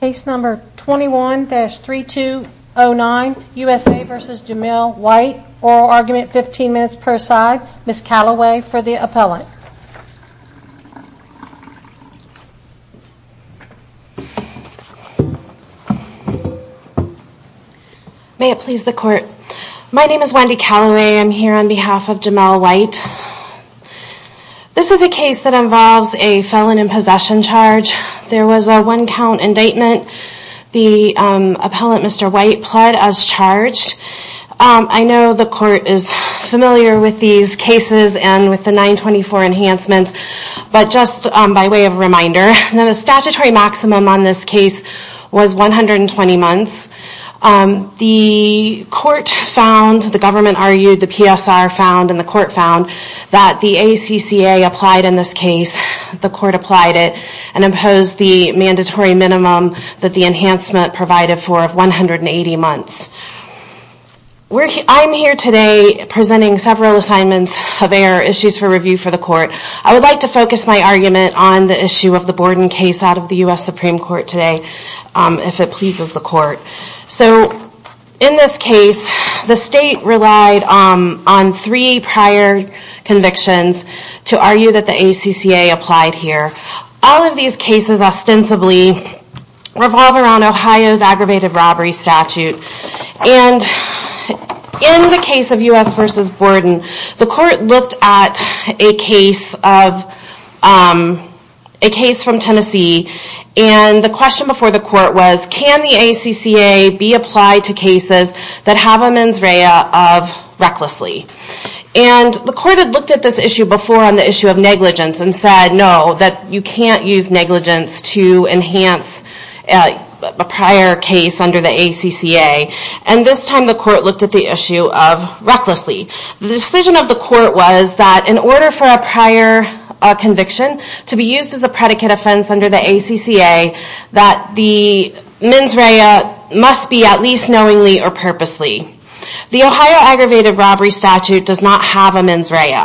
Case number 21-3209, USA v. Jamael White, oral argument 15 minutes per side. Ms. Calloway for the appellant. May it please the court. My name is Wendy Calloway. I'm here on behalf of Jamael White. This is a case that involves a felon in possession charge. There was a one count indictment. The appellant, Mr. White, pled as charged. I know the court is familiar with these cases and with the 924 enhancements, but just by way of reminder, the statutory maximum on this case was 120 months. The court found, the government argued, the PSR found, and the court found that the ACCA applied in this case, the court applied it, and imposed the mandatory minimum that the enhancement provided for of 180 months. I'm here today presenting several assignments of error, issues for review for the court. I would like to focus my argument on the issue of the Borden case out of the U.S. Supreme Court today, if it pleases the court. So, in this case, the state relied on three prior convictions to argue that the ACCA applied here. All of these cases ostensibly revolve around Ohio's aggravated robbery statute. In the case of U.S. v. Borden, the court looked at a case from Tennessee, and the question before the court was, can the ACCA be applied to cases that have a mens rea of recklessly? And the court had looked at this issue before on the issue of negligence, and said no, that you can't use negligence to enhance a prior case under the ACCA. And this time the court looked at the issue of recklessly. The decision of the court was that in order for a prior conviction to be used as a predicate offense under the ACCA, that the mens rea must be at least knowingly or purposely. The Ohio aggravated robbery statute does not have a mens rea.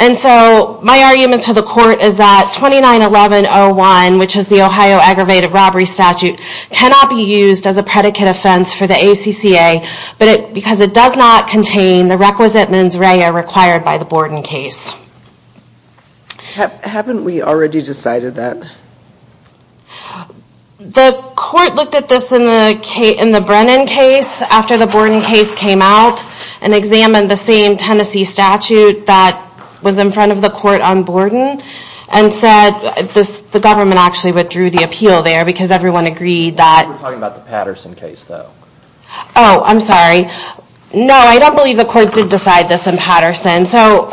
And so, my argument to the court is that 29-1101, which is the Ohio aggravated robbery statute, cannot be used as a predicate offense for the ACCA because it does not contain the requisite mens rea required by the Borden case. Haven't we already decided that? The court looked at this in the Brennan case after the Borden case came out, and examined the same Tennessee statute that was in front of the court on Borden, and said the government actually withdrew the appeal there because everyone agreed that... We're talking about the Patterson case though. Oh, I'm sorry. No, I don't believe the court did decide this in Patterson. So,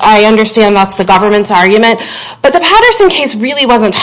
I understand that's the government's argument. But the Patterson case really wasn't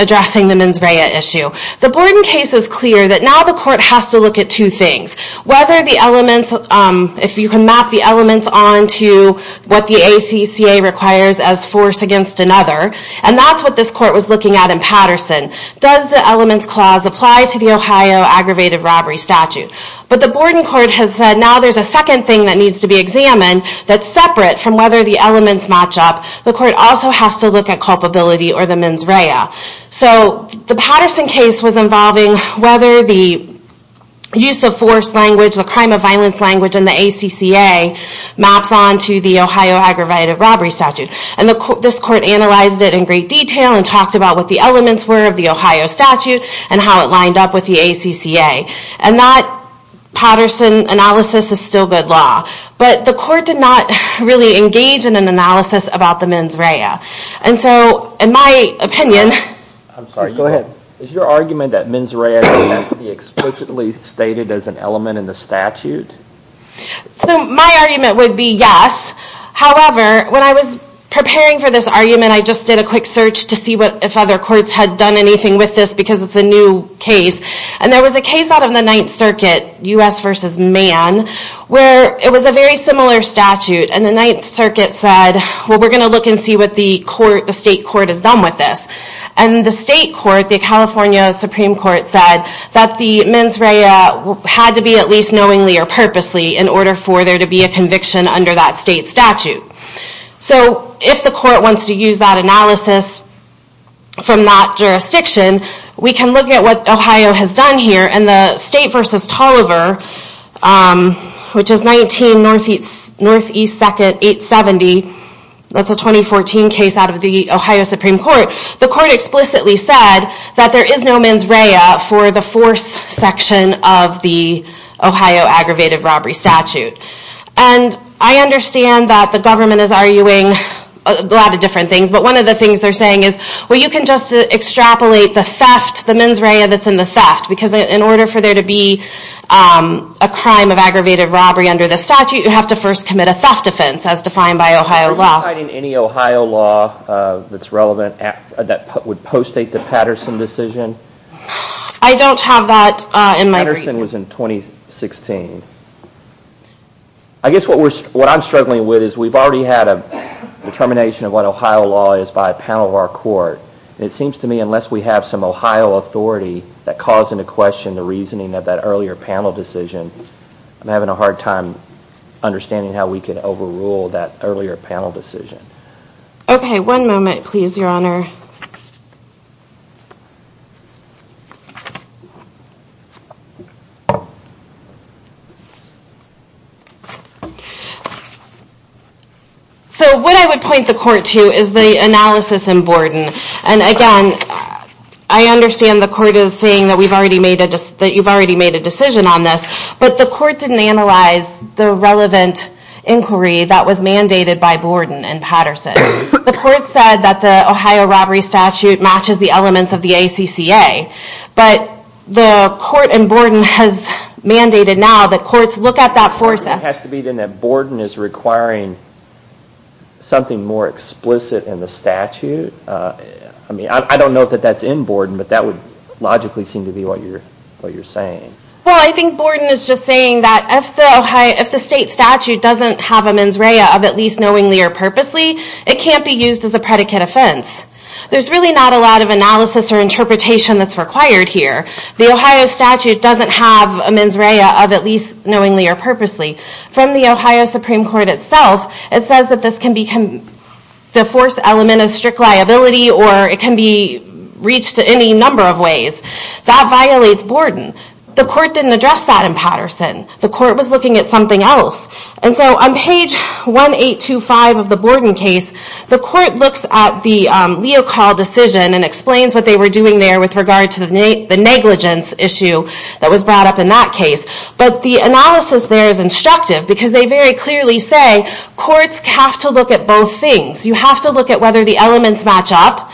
addressing the mens rea issue. The Borden case is clear that now the court has to look at two things. If you can map the elements onto what the ACCA requires as force against another, and that's what this court was looking at in Patterson, does the elements clause apply to the Ohio aggravated robbery statute? But the Borden court has said now there's a second thing that needs to be examined that's separate from whether the elements match up. The court also has to look at culpability or the mens rea. So, the Patterson case was involving whether the use of force language, the crime of violence language in the ACCA, maps onto the Ohio aggravated robbery statute. And this court analyzed it in great detail, and talked about what the elements were of the Ohio statute, and how it lined up with the ACCA. And that Patterson analysis is still good law. But the court did not really engage in an analysis about the mens rea. And so, in my opinion... I'm sorry, go ahead. Is your argument that mens rea is explicitly stated as an element in the statute? So, my argument would be yes. However, when I was preparing for this argument, I just did a quick search to see if other courts had done anything with this because it's a new case. And there was a case out of the Ninth Circuit, U.S. v. Mann, where it was a very similar statute. And the Ninth Circuit said, well, we're going to look and see what the state court has done with this. And the state court, the California Supreme Court, said that the mens rea had to be at least knowingly or purposely in order for there to be a conviction under that state statute. So, if the court wants to use that analysis from that jurisdiction, we can look at what Ohio has done here. And the state v. Tolliver, which is 19 Northeast 870, that's a 2014 case out of the Ohio Supreme Court, the court explicitly said that there is no mens rea for the force section of the Ohio Aggravated Robbery Statute. And I understand that the government is arguing a lot of different things, but one of the things they're saying is, well, you can just extrapolate the theft, the mens rea that's in the theft, because in order for there to be a crime of aggravated robbery under the statute, you have to first commit a theft offense, as defined by Ohio law. Are you citing any Ohio law that's relevant, that would postdate the Patterson decision? I don't have that in my brief. Patterson was in 2016. I guess what I'm struggling with is we've already had a determination of what Ohio law is by a panel of our court, and it seems to me unless we have some Ohio authority that calls into question the reasoning of that earlier panel decision, I'm having a hard time understanding how we can overrule that earlier panel decision. Okay. One moment, please, Your Honor. So what I would point the court to is the analysis in Borden. And again, I understand the court is saying that you've already made a decision on this, but the court didn't analyze the relevant inquiry that was mandated by Borden and Patterson. The court said that the Ohio robbery statute matches the elements of the ACCA. But the court in Borden has mandated now that courts look at that foresight. It has to be then that Borden is requiring something more explicit in the statute? I don't know that that's in Borden, but that would logically seem to be what you're saying. Well, I think Borden is just saying that if the state statute doesn't have a mens rea of at least knowingly or purposely, it can't be used as a predicate offense. There's really not a lot of analysis or interpretation that's required here. The Ohio statute doesn't have a mens rea of at least knowingly or purposely. From the Ohio Supreme Court itself, it says that the force element is strict liability or it can be reached in any number of ways. That violates Borden. The court didn't address that in Patterson. The court was looking at something else. On page 1825 of the Borden case, the court looks at the Leocal decision and explains what they were doing there with regard to the negligence issue that was brought up in that case. But the analysis there is instructive because they very clearly say courts have to look at both things. You have to look at whether the elements match up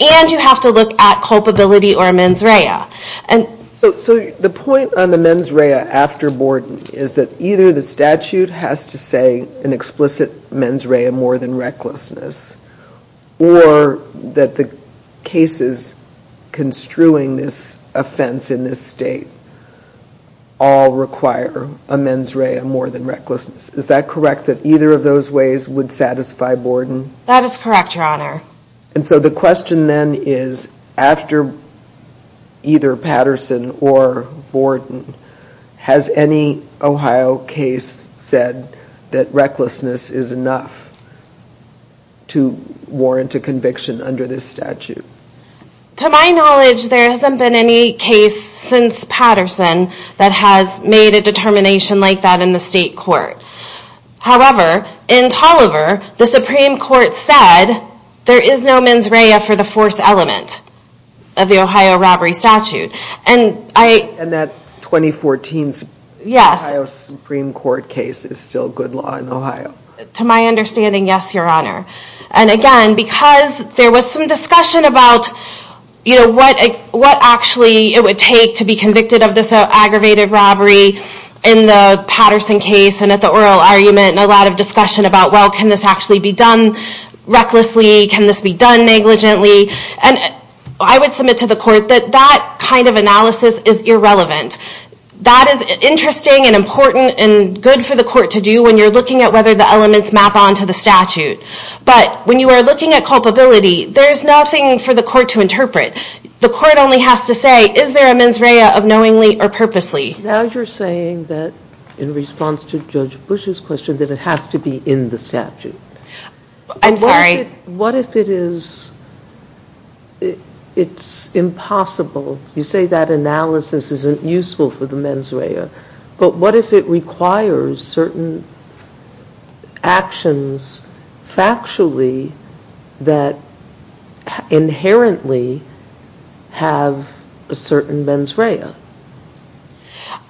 and you have to look at culpability or mens rea. The point on the mens rea after Borden is that either the statute has to say an explicit mens rea more than recklessness or that the cases construing this offense in this state all require a mens rea more than recklessness. Is that correct that either of those ways would satisfy Borden? That is correct, Your Honor. And so the question then is after either Patterson or Borden, has any Ohio case said that recklessness is enough to warrant a conviction under this statute? To my knowledge, there hasn't been any case since Patterson that has made a determination like that in the state court. However, in Tolliver, the Supreme Court said there is no mens rea for the force element of the Ohio robbery statute. And that 2014 Ohio Supreme Court case is still good law in Ohio? To my understanding, yes, Your Honor. And again, because there was some discussion about what actually it would take to be convicted of this aggravated robbery in the Patterson case and at the oral argument and a lot of discussion about, well, can this actually be done recklessly? Can this be done negligently? And I would submit to the court that that kind of analysis is irrelevant. That is interesting and important and good for the court to do when you're looking at whether the elements map onto the statute. But when you are looking at culpability, there's nothing for the court to interpret. The court only has to say, is there a mens rea of knowingly or purposely? Now you're saying that in response to Judge Bush's question that it has to be in the statute. I'm sorry? What if it is impossible? You say that analysis isn't useful for the mens rea. But what if it requires certain actions factually that inherently have a certain mens rea?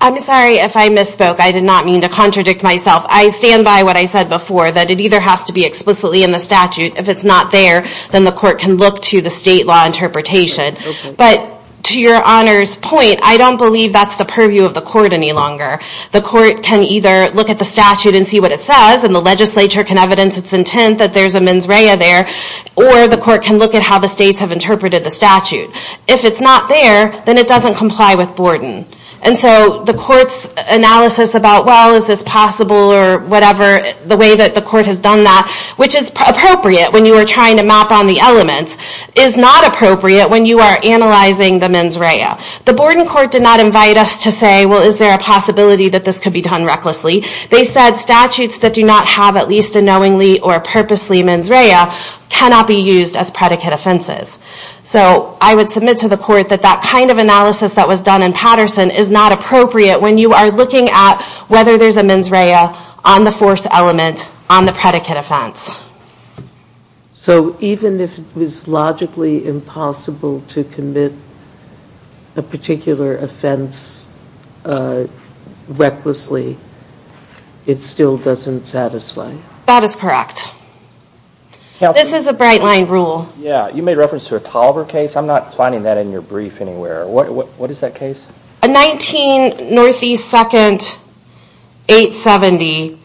I'm sorry if I misspoke. I did not mean to contradict myself. I stand by what I said before, that it either has to be explicitly in the statute. If it's not there, then the court can look to the state law interpretation. But to Your Honor's point, I don't believe that's the purview of the court any longer. The court can either look at the statute and see what it says, and the legislature can evidence its intent that there's a mens rea there, or the court can look at how the states have interpreted the statute. If it's not there, then it doesn't comply with Borden. And so the court's analysis about, well, is this possible or whatever, the way that the court has done that, which is appropriate when you are trying to map on the elements, is not appropriate when you are analyzing the mens rea. The Borden court did not invite us to say, well, is there a possibility that this could be done recklessly? They said statutes that do not have at least a knowingly or purposely mens rea cannot be used as predicate offenses. So I would submit to the court that that kind of analysis that was done in Patterson is not appropriate when you are looking at whether there's a mens rea on the force element on the predicate offense. So even if it was logically impossible to commit a particular offense recklessly, it still doesn't satisfy? That is correct. This is a bright line rule. Yeah, you made reference to a Toliver case. I'm not finding that in your brief anywhere. What is that case? A 19 Northeast 2nd, 870.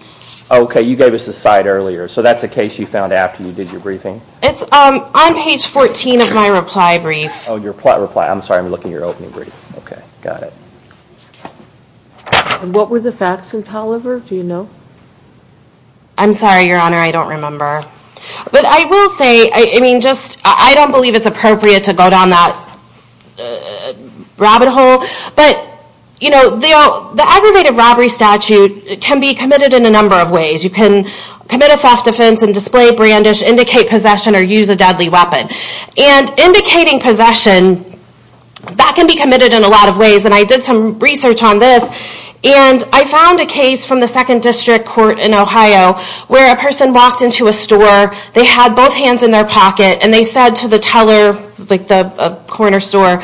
Okay, you gave us a side earlier. So that's a case you found after you did your briefing? It's on page 14 of my reply brief. Oh, your reply. I'm sorry. I'm looking at your opening brief. Okay, got it. What were the facts in Toliver? Do you know? I'm sorry, Your Honor. I don't remember. But I will say, I mean, just, I don't believe it's appropriate to go down that rabbit hole. But, you know, the aggravated robbery statute can be committed in a number of ways. You can commit a theft offense and display brandish, indicate possession, or use a deadly weapon. And indicating possession, that can be committed in a lot of ways. And I did some research on this. And I found a case from the 2nd District Court in Ohio where a person walked into a store, they had both hands in their pocket, and they said to the teller, like the corner store,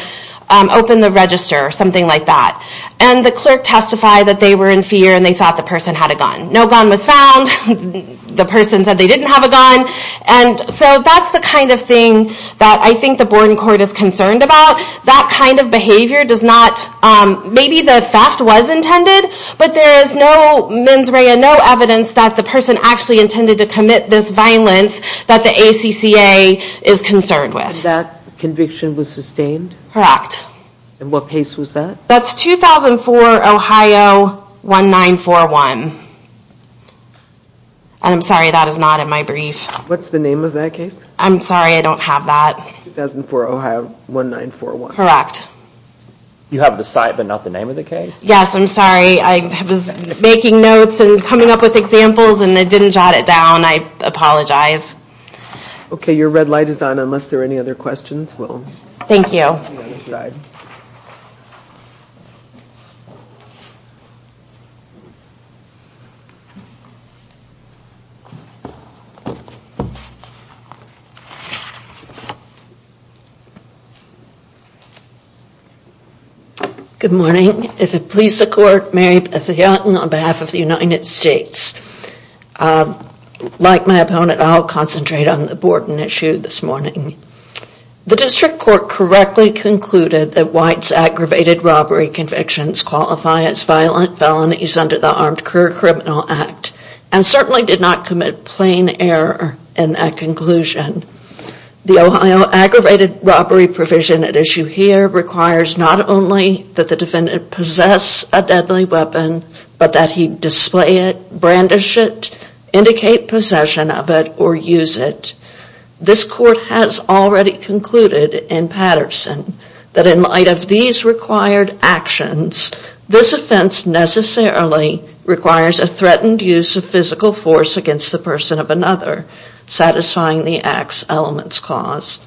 open the register or something like that. And the clerk testified that they were in fear and they thought the person had a gun. No gun was found. The person said they didn't have a gun. And so that's the kind of thing that I think the Borden Court is concerned about. That kind of behavior does not, maybe the theft was intended, but there is no mens rea, no evidence, that the person actually intended to commit this violence that the ACCA is concerned with. And that conviction was sustained? Correct. And what case was that? That's 2004, Ohio, 1941. And I'm sorry, that is not in my brief. What's the name of that case? I'm sorry, I don't have that. 2004, Ohio, 1941. Correct. You have the site but not the name of the case? Yes, I'm sorry. I was making notes and coming up with examples and I didn't jot it down. I apologize. Okay, your red light is on unless there are any other questions. Thank you. Thank you. Good morning. If it please the Court, Mary Beth Yeaton on behalf of the United States. Like my opponent, I'll concentrate on the Borden issue this morning. The District Court correctly concluded that White's aggravated robbery convictions qualify as violent felonies under the Armed Career Criminal Act and certainly did not commit plain error in that conclusion. The Ohio aggravated robbery provision at issue here requires not only that the defendant possess a deadly weapon but that he display it, brandish it, indicate possession of it, or use it. This Court has already concluded in Patterson that in light of these required actions, this offense necessarily requires a threatened use of physical force against the person of another satisfying the acts elements caused.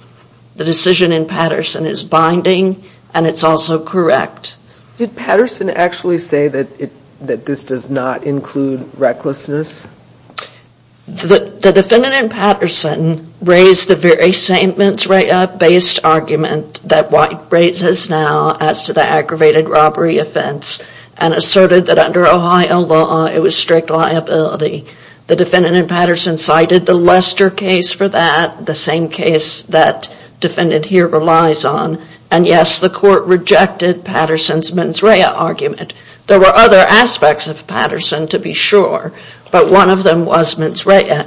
The decision in Patterson is binding and it's also correct. Did Patterson actually say that this does not include recklessness? The defendant in Patterson raised the very same mens rea based argument that White raises now as to the aggravated robbery offense and asserted that under Ohio law it was strict liability. The defendant in Patterson cited the Lester case for that, the same case that defendant here relies on, and yes, the Court rejected Patterson's mens rea argument. There were other aspects of Patterson to be sure, but one of them was mens rea.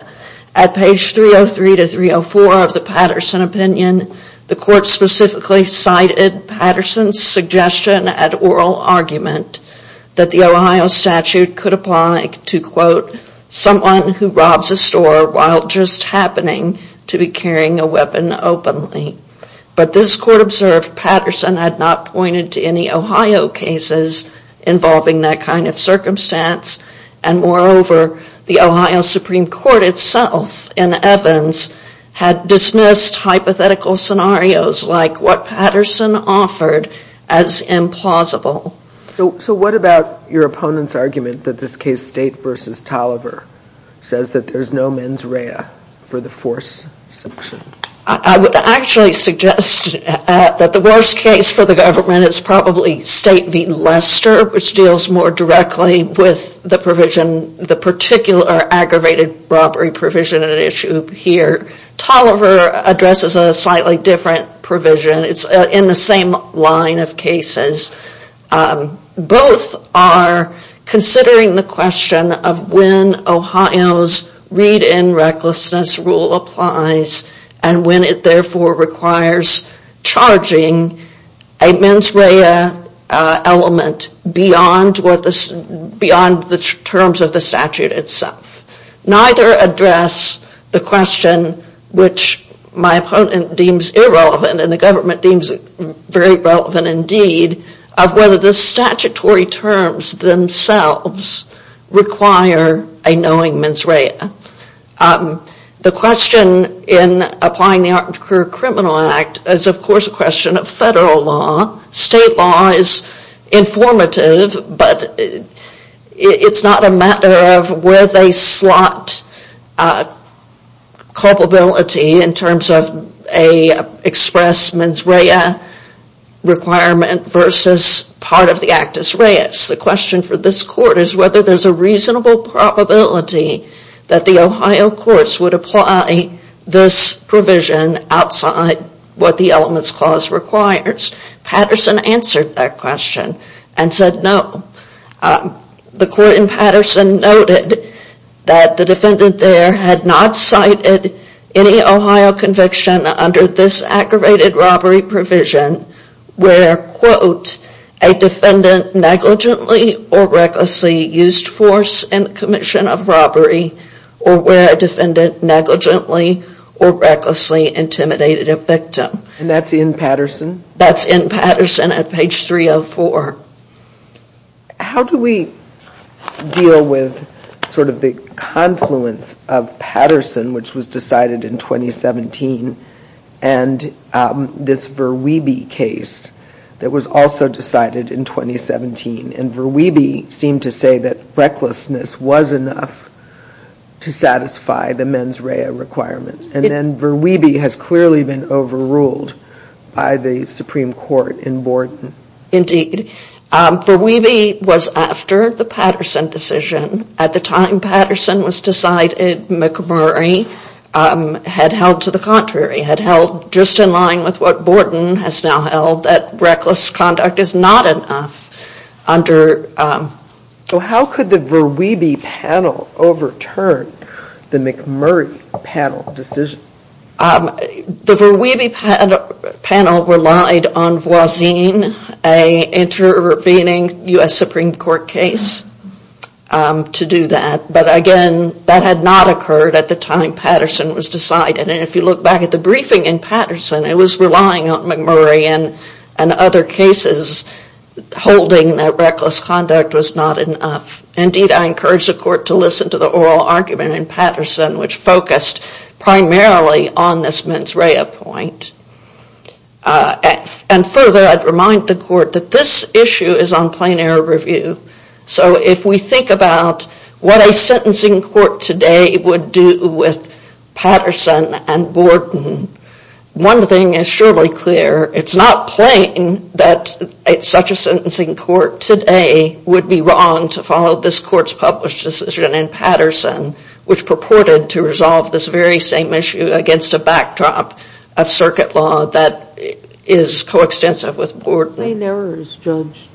At page 303-304 of the Patterson opinion, the Court specifically cited Patterson's suggestion at oral argument that the Ohio statute could apply to quote, someone who robs a store while just happening to be carrying a weapon openly. But this Court observed Patterson had not pointed to any Ohio cases involving that kind of circumstance and moreover, the Ohio Supreme Court itself in Evans had dismissed hypothetical scenarios like what Patterson offered as implausible. So what about your opponent's argument that this case, State v. Tolliver, says that there's no mens rea for the force section? I would actually suggest that the worst case for the government is probably State v. Lester, which deals more directly with the provision, the particular aggravated robbery provision at issue here. Tolliver addresses a slightly different provision. It's in the same line of cases. Both are considering the question of when Ohio's read-in recklessness rule applies and when it therefore requires charging a mens rea element beyond the terms of the statute itself. Neither address the question which my opponent deems irrelevant and the government deems very relevant indeed of whether the statutory terms themselves require a knowing mens rea. The question in applying the Art and Career Criminal Act is of course a question of federal law, state law is informative, but it's not a matter of where they slot culpability in terms of an express mens rea requirement versus part of the actus reus. The question for this court is whether there's a reasonable probability that the Ohio courts would apply this provision outside what the elements clause requires. Patterson answered that question and said no. The court in Patterson noted that the defendant there had not cited any Ohio conviction under this aggravated robbery provision where quote a defendant negligently or recklessly used force in the commission of robbery or where a defendant negligently or recklessly intimidated a victim. And that's in Patterson? That's in Patterson at page 304. How do we deal with sort of the confluence of Patterson which was decided in 2017 and this Verweebe case that was also decided in 2017 and Verweebe seemed to say that recklessness was enough to satisfy the mens rea requirement and then Verweebe has clearly been overruled by the Supreme Court in Borden. Indeed. Verweebe was after the Patterson decision. At the time Patterson was decided, McMurray had held to the contrary, had held just in line with what Borden has now held that reckless conduct is not enough under So how could the Verweebe panel overturn the McMurray panel decision? The Verweebe panel relied on Voisin, an intervening U.S. Supreme Court case to do that, but again that had not occurred at the time Patterson was decided and if you look back at the briefing in Patterson, it was relying on McMurray and other cases holding that reckless conduct was not enough. Indeed I encourage the court to listen to the oral argument in Patterson which focused primarily on this mens rea point and further I'd remind the court that this issue is on plain error review so if we think about what a sentencing court today would do with Patterson and Borden one thing is surely clear, it's not plain that such a sentencing court today would be wrong to follow this court's published decision in Patterson which purported to resolve this very same issue against a backdrop of circuit law that is coextensive with Borden Plain error is judged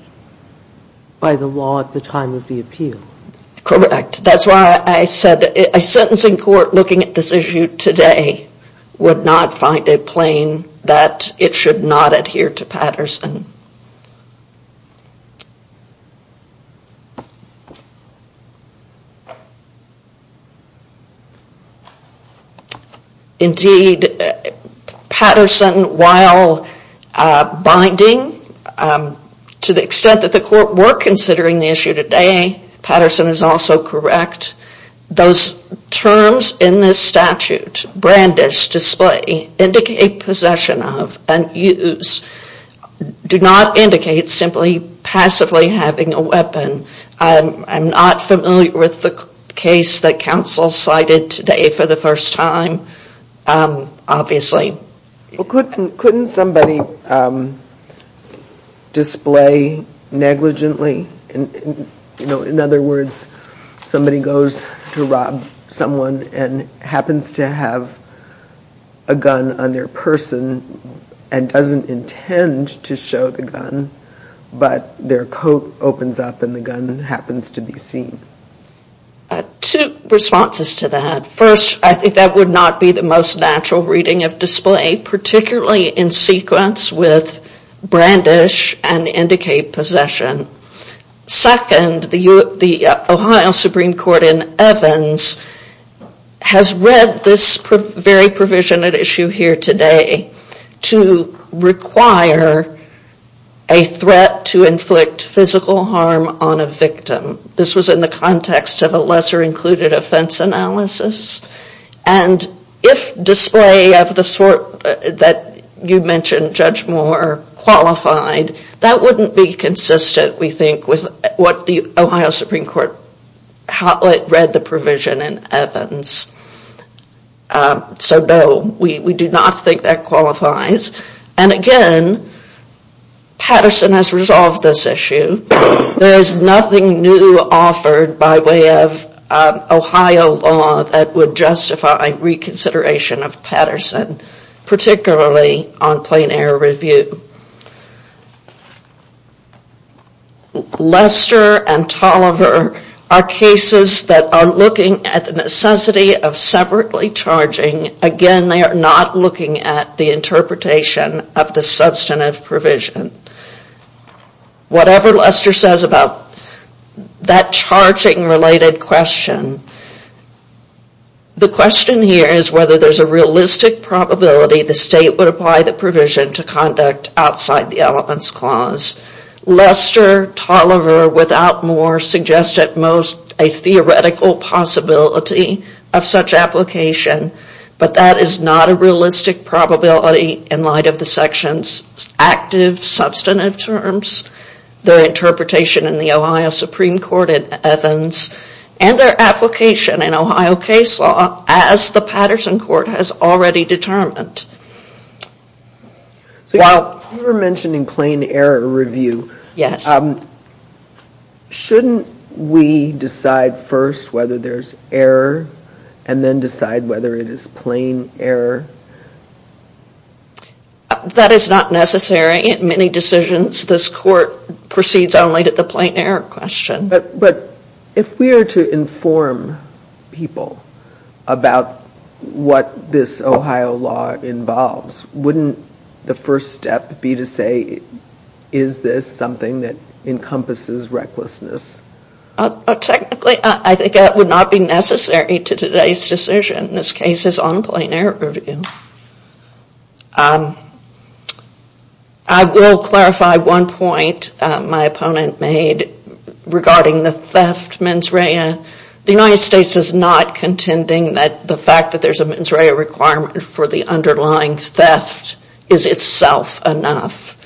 by the law at the time of the appeal Correct, that's why I said a sentencing court looking at this issue today would not find it plain that it should not adhere to Patterson Indeed, Patterson while binding to the extent that the court were considering the issue today Patterson is also correct those terms in this statute brandish, display, indicate possession of and use do not indicate simply passively having a warrant I'm not familiar with the case that counsel cited today for the first time obviously Couldn't somebody display negligently in other words somebody goes to rob someone and happens to have a gun on their person and doesn't intend to show the gun but their coat opens up and the gun happens to be seen Two responses to that First, I think that would not be the most natural reading of display particularly in sequence with brandish and indicate possession Second, the Ohio Supreme Court in Evans has read this very provision at issue here today to require a threat to inflict physical harm on a victim This was in the context of a lesser included offense analysis and if display of the sort that you mentioned Judge Moore qualified, that wouldn't be consistent we think with what the Ohio Supreme Court read the provision in Evans So no, we do not think that qualifies And again Patterson has resolved this issue There is nothing new offered by way of Ohio law that would justify reconsideration of Patterson particularly on plain error review Lester and Tolliver are cases that are looking at the necessity of separately charging Again, they are not looking at the interpretation of the substantive provision Whatever Lester says about that charging related question the question here is whether there is a realistic probability the state would apply the provision to conduct outside the elements clause Lester, Tolliver, without Moore suggest at most a theoretical possibility of such application but that is not a realistic probability in light of the section's active substantive terms their interpretation in the Ohio Supreme Court at Evans and their application in Ohio case law as the Patterson court has already determined While you were mentioning plain error review Yes Shouldn't we decide first whether there is error and then decide whether it is plain error That is not necessary in many decisions this court proceeds only to the plain error question But if we are to inform people about what this Ohio law involves wouldn't the first step be to say is this something that encompasses recklessness Technically I think that would not be necessary to today's decision This case is on plain error review I will clarify one point my opponent made regarding the theft mens rea The United States is not contending that the fact that there is a mens rea requirement for the underlying theft is itself enough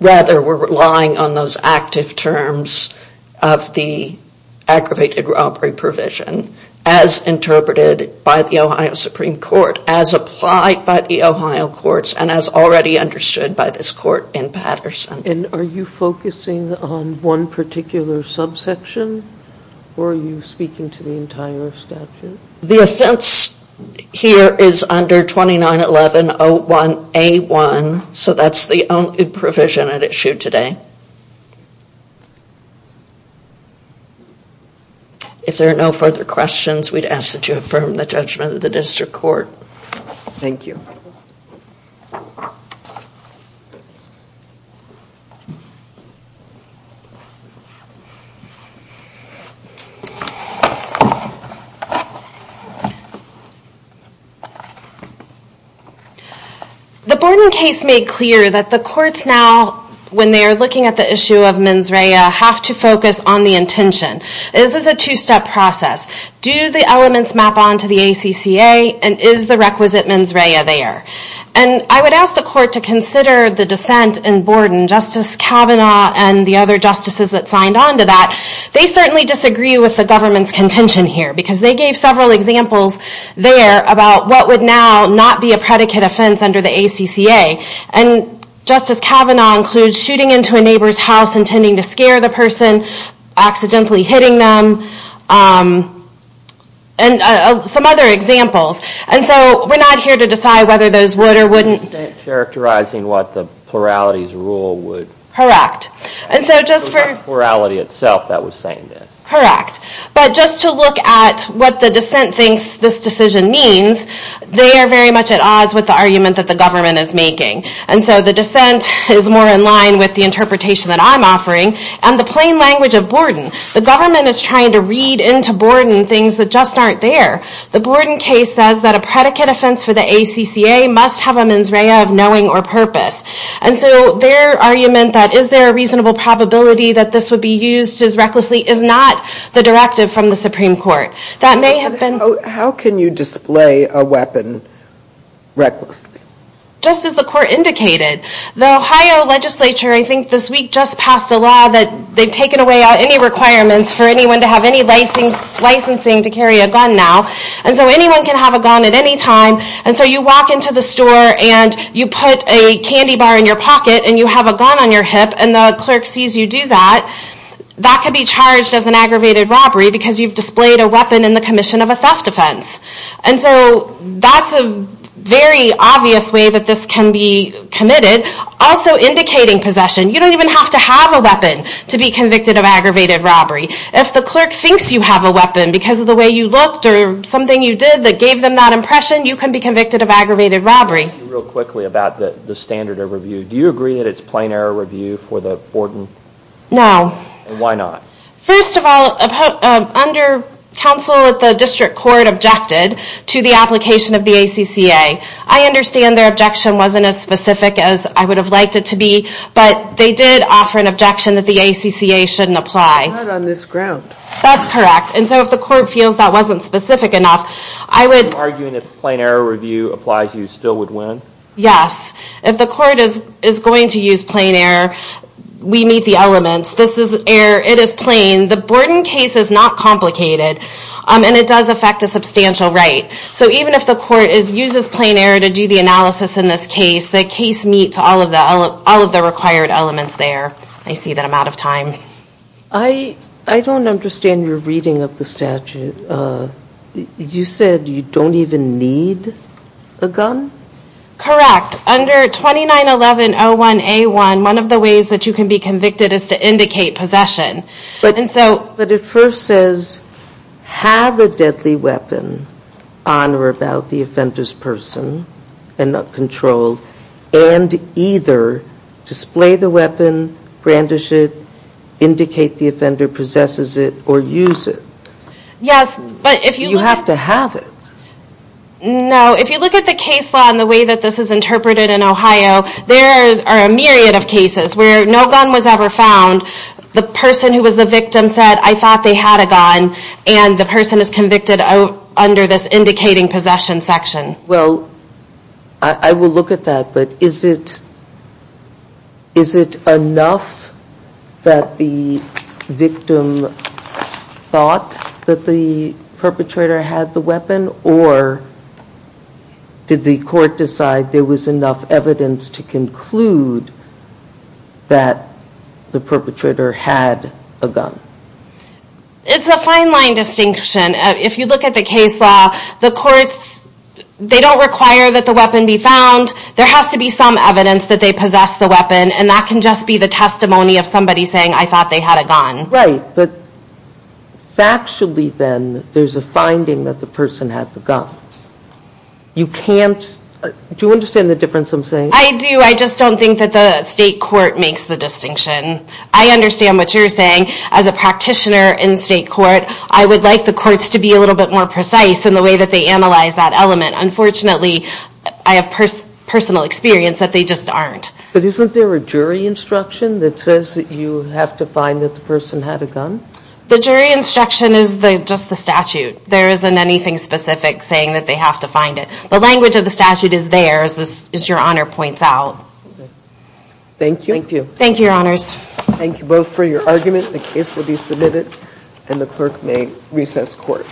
rather we are relying on those active terms of the aggravated robbery provision as interpreted by the Ohio Supreme Court as applied by the Ohio courts and as already understood by this court in Patterson Are you focusing on one particular subsection or are you speaking to the entire statute The offense here is under 291101A1 so that is the only provision that is issued today If there are no further questions we would ask that you affirm the judgment of the district court Thank you The Borden case made clear that the courts now when they are looking at the issue of mens rea have to focus on the intention This is a two step process Do the elements map onto the ACCA and is the requisite mens rea there I would ask the court to consider the dissent in Borden Justice Kavanaugh and the other justices that signed onto that They certainly disagree with the government's contention here because they gave several examples there about what would now not be a predicate offense under the ACCA and Justice Kavanaugh includes shooting into a neighbor's house intending to scare the person accidentally hitting them and some other examples and so we are not here to decide whether those would or wouldn't Characterizing what the pluralities rule would Correct But just to look at what the dissent thinks this decision means they are very much at odds with the argument that the government is making and so the dissent is more in line with the interpretation that I am offering and the plain language of Borden The government is trying to read into Borden things that just aren't there The Borden case says that a predicate offense for the ACCA must have a mens rea of knowing or purpose and so their argument that is there a reasonable probability that this would be used as recklessly is not the directive from the Supreme Court How can you display a weapon recklessly Just as the court indicated The Ohio legislature I think this week just passed a law that they've taken away any requirements for anyone to have any licensing to carry a gun now and so anyone can have a gun at any time and so you walk into the store and you put a candy bar in your pocket and you have a gun on your hip and the clerk sees you do that that can be charged as an aggravated robbery because you've displayed a weapon in the commission of a theft offense and so that's a very obvious way that this can be committed also indicating possession. You don't even have to have a weapon to be convicted of aggravated robbery If the clerk thinks you have a weapon because of the way you looked or something you did that gave them that impression you can be convicted of aggravated robbery Do you agree that it's plain error review for the Borden? No. Why not? First of all, under counsel at the district court objected to the application of the ACCA I understand their objection wasn't as specific as I would have liked it to be but they did offer an objection that the ACCA shouldn't apply It's not on this ground That's correct. And so if the court feels that wasn't specific enough Are you arguing if plain error review applies you still would win? Yes. If the court is going to use plain error we meet the elements This is error. It is plain. The Borden case is not complicated and it does affect a substantial right so even if the court uses plain error to do the analysis in this case, the case meets all of the required elements there I see that I'm out of time I don't understand your reading of the statute You said you don't even need a gun? Correct. Under 291101A1 one of the ways that you can be convicted is to indicate possession But it first says have a deadly weapon and either display the weapon brandish it indicate the offender possesses it or use it You have to have it No. If you look at the case law and the way this is interpreted in Ohio there are a myriad of cases where no gun was ever found the person who was the victim said I thought they had a gun and the person is convicted under this indicating possession section I will look at that but is it enough that the victim thought that the perpetrator had the weapon or did the court decide there was enough evidence to conclude that the perpetrator had a gun It's a fine line distinction if you look at the case law they don't require that the weapon be found there has to be some evidence that they possess the weapon and that can just be the testimony of somebody saying I thought they had a gun Right. But factually then there's a finding that the person had the gun Do you understand the difference I'm saying? I do. I just don't think that the state court makes the distinction I understand what you're saying as a practitioner in state court I would like the courts to be a little bit more precise in the way that they analyze that element unfortunately I have personal experience that they just aren't But isn't there a jury instruction that says that you have to find that the person had a gun The jury instruction is just the statute there isn't anything specific saying that they have to find it The language of the statute is there as your honor points out Thank you Thank you both for your argument The case will be submitted and the clerk may recess court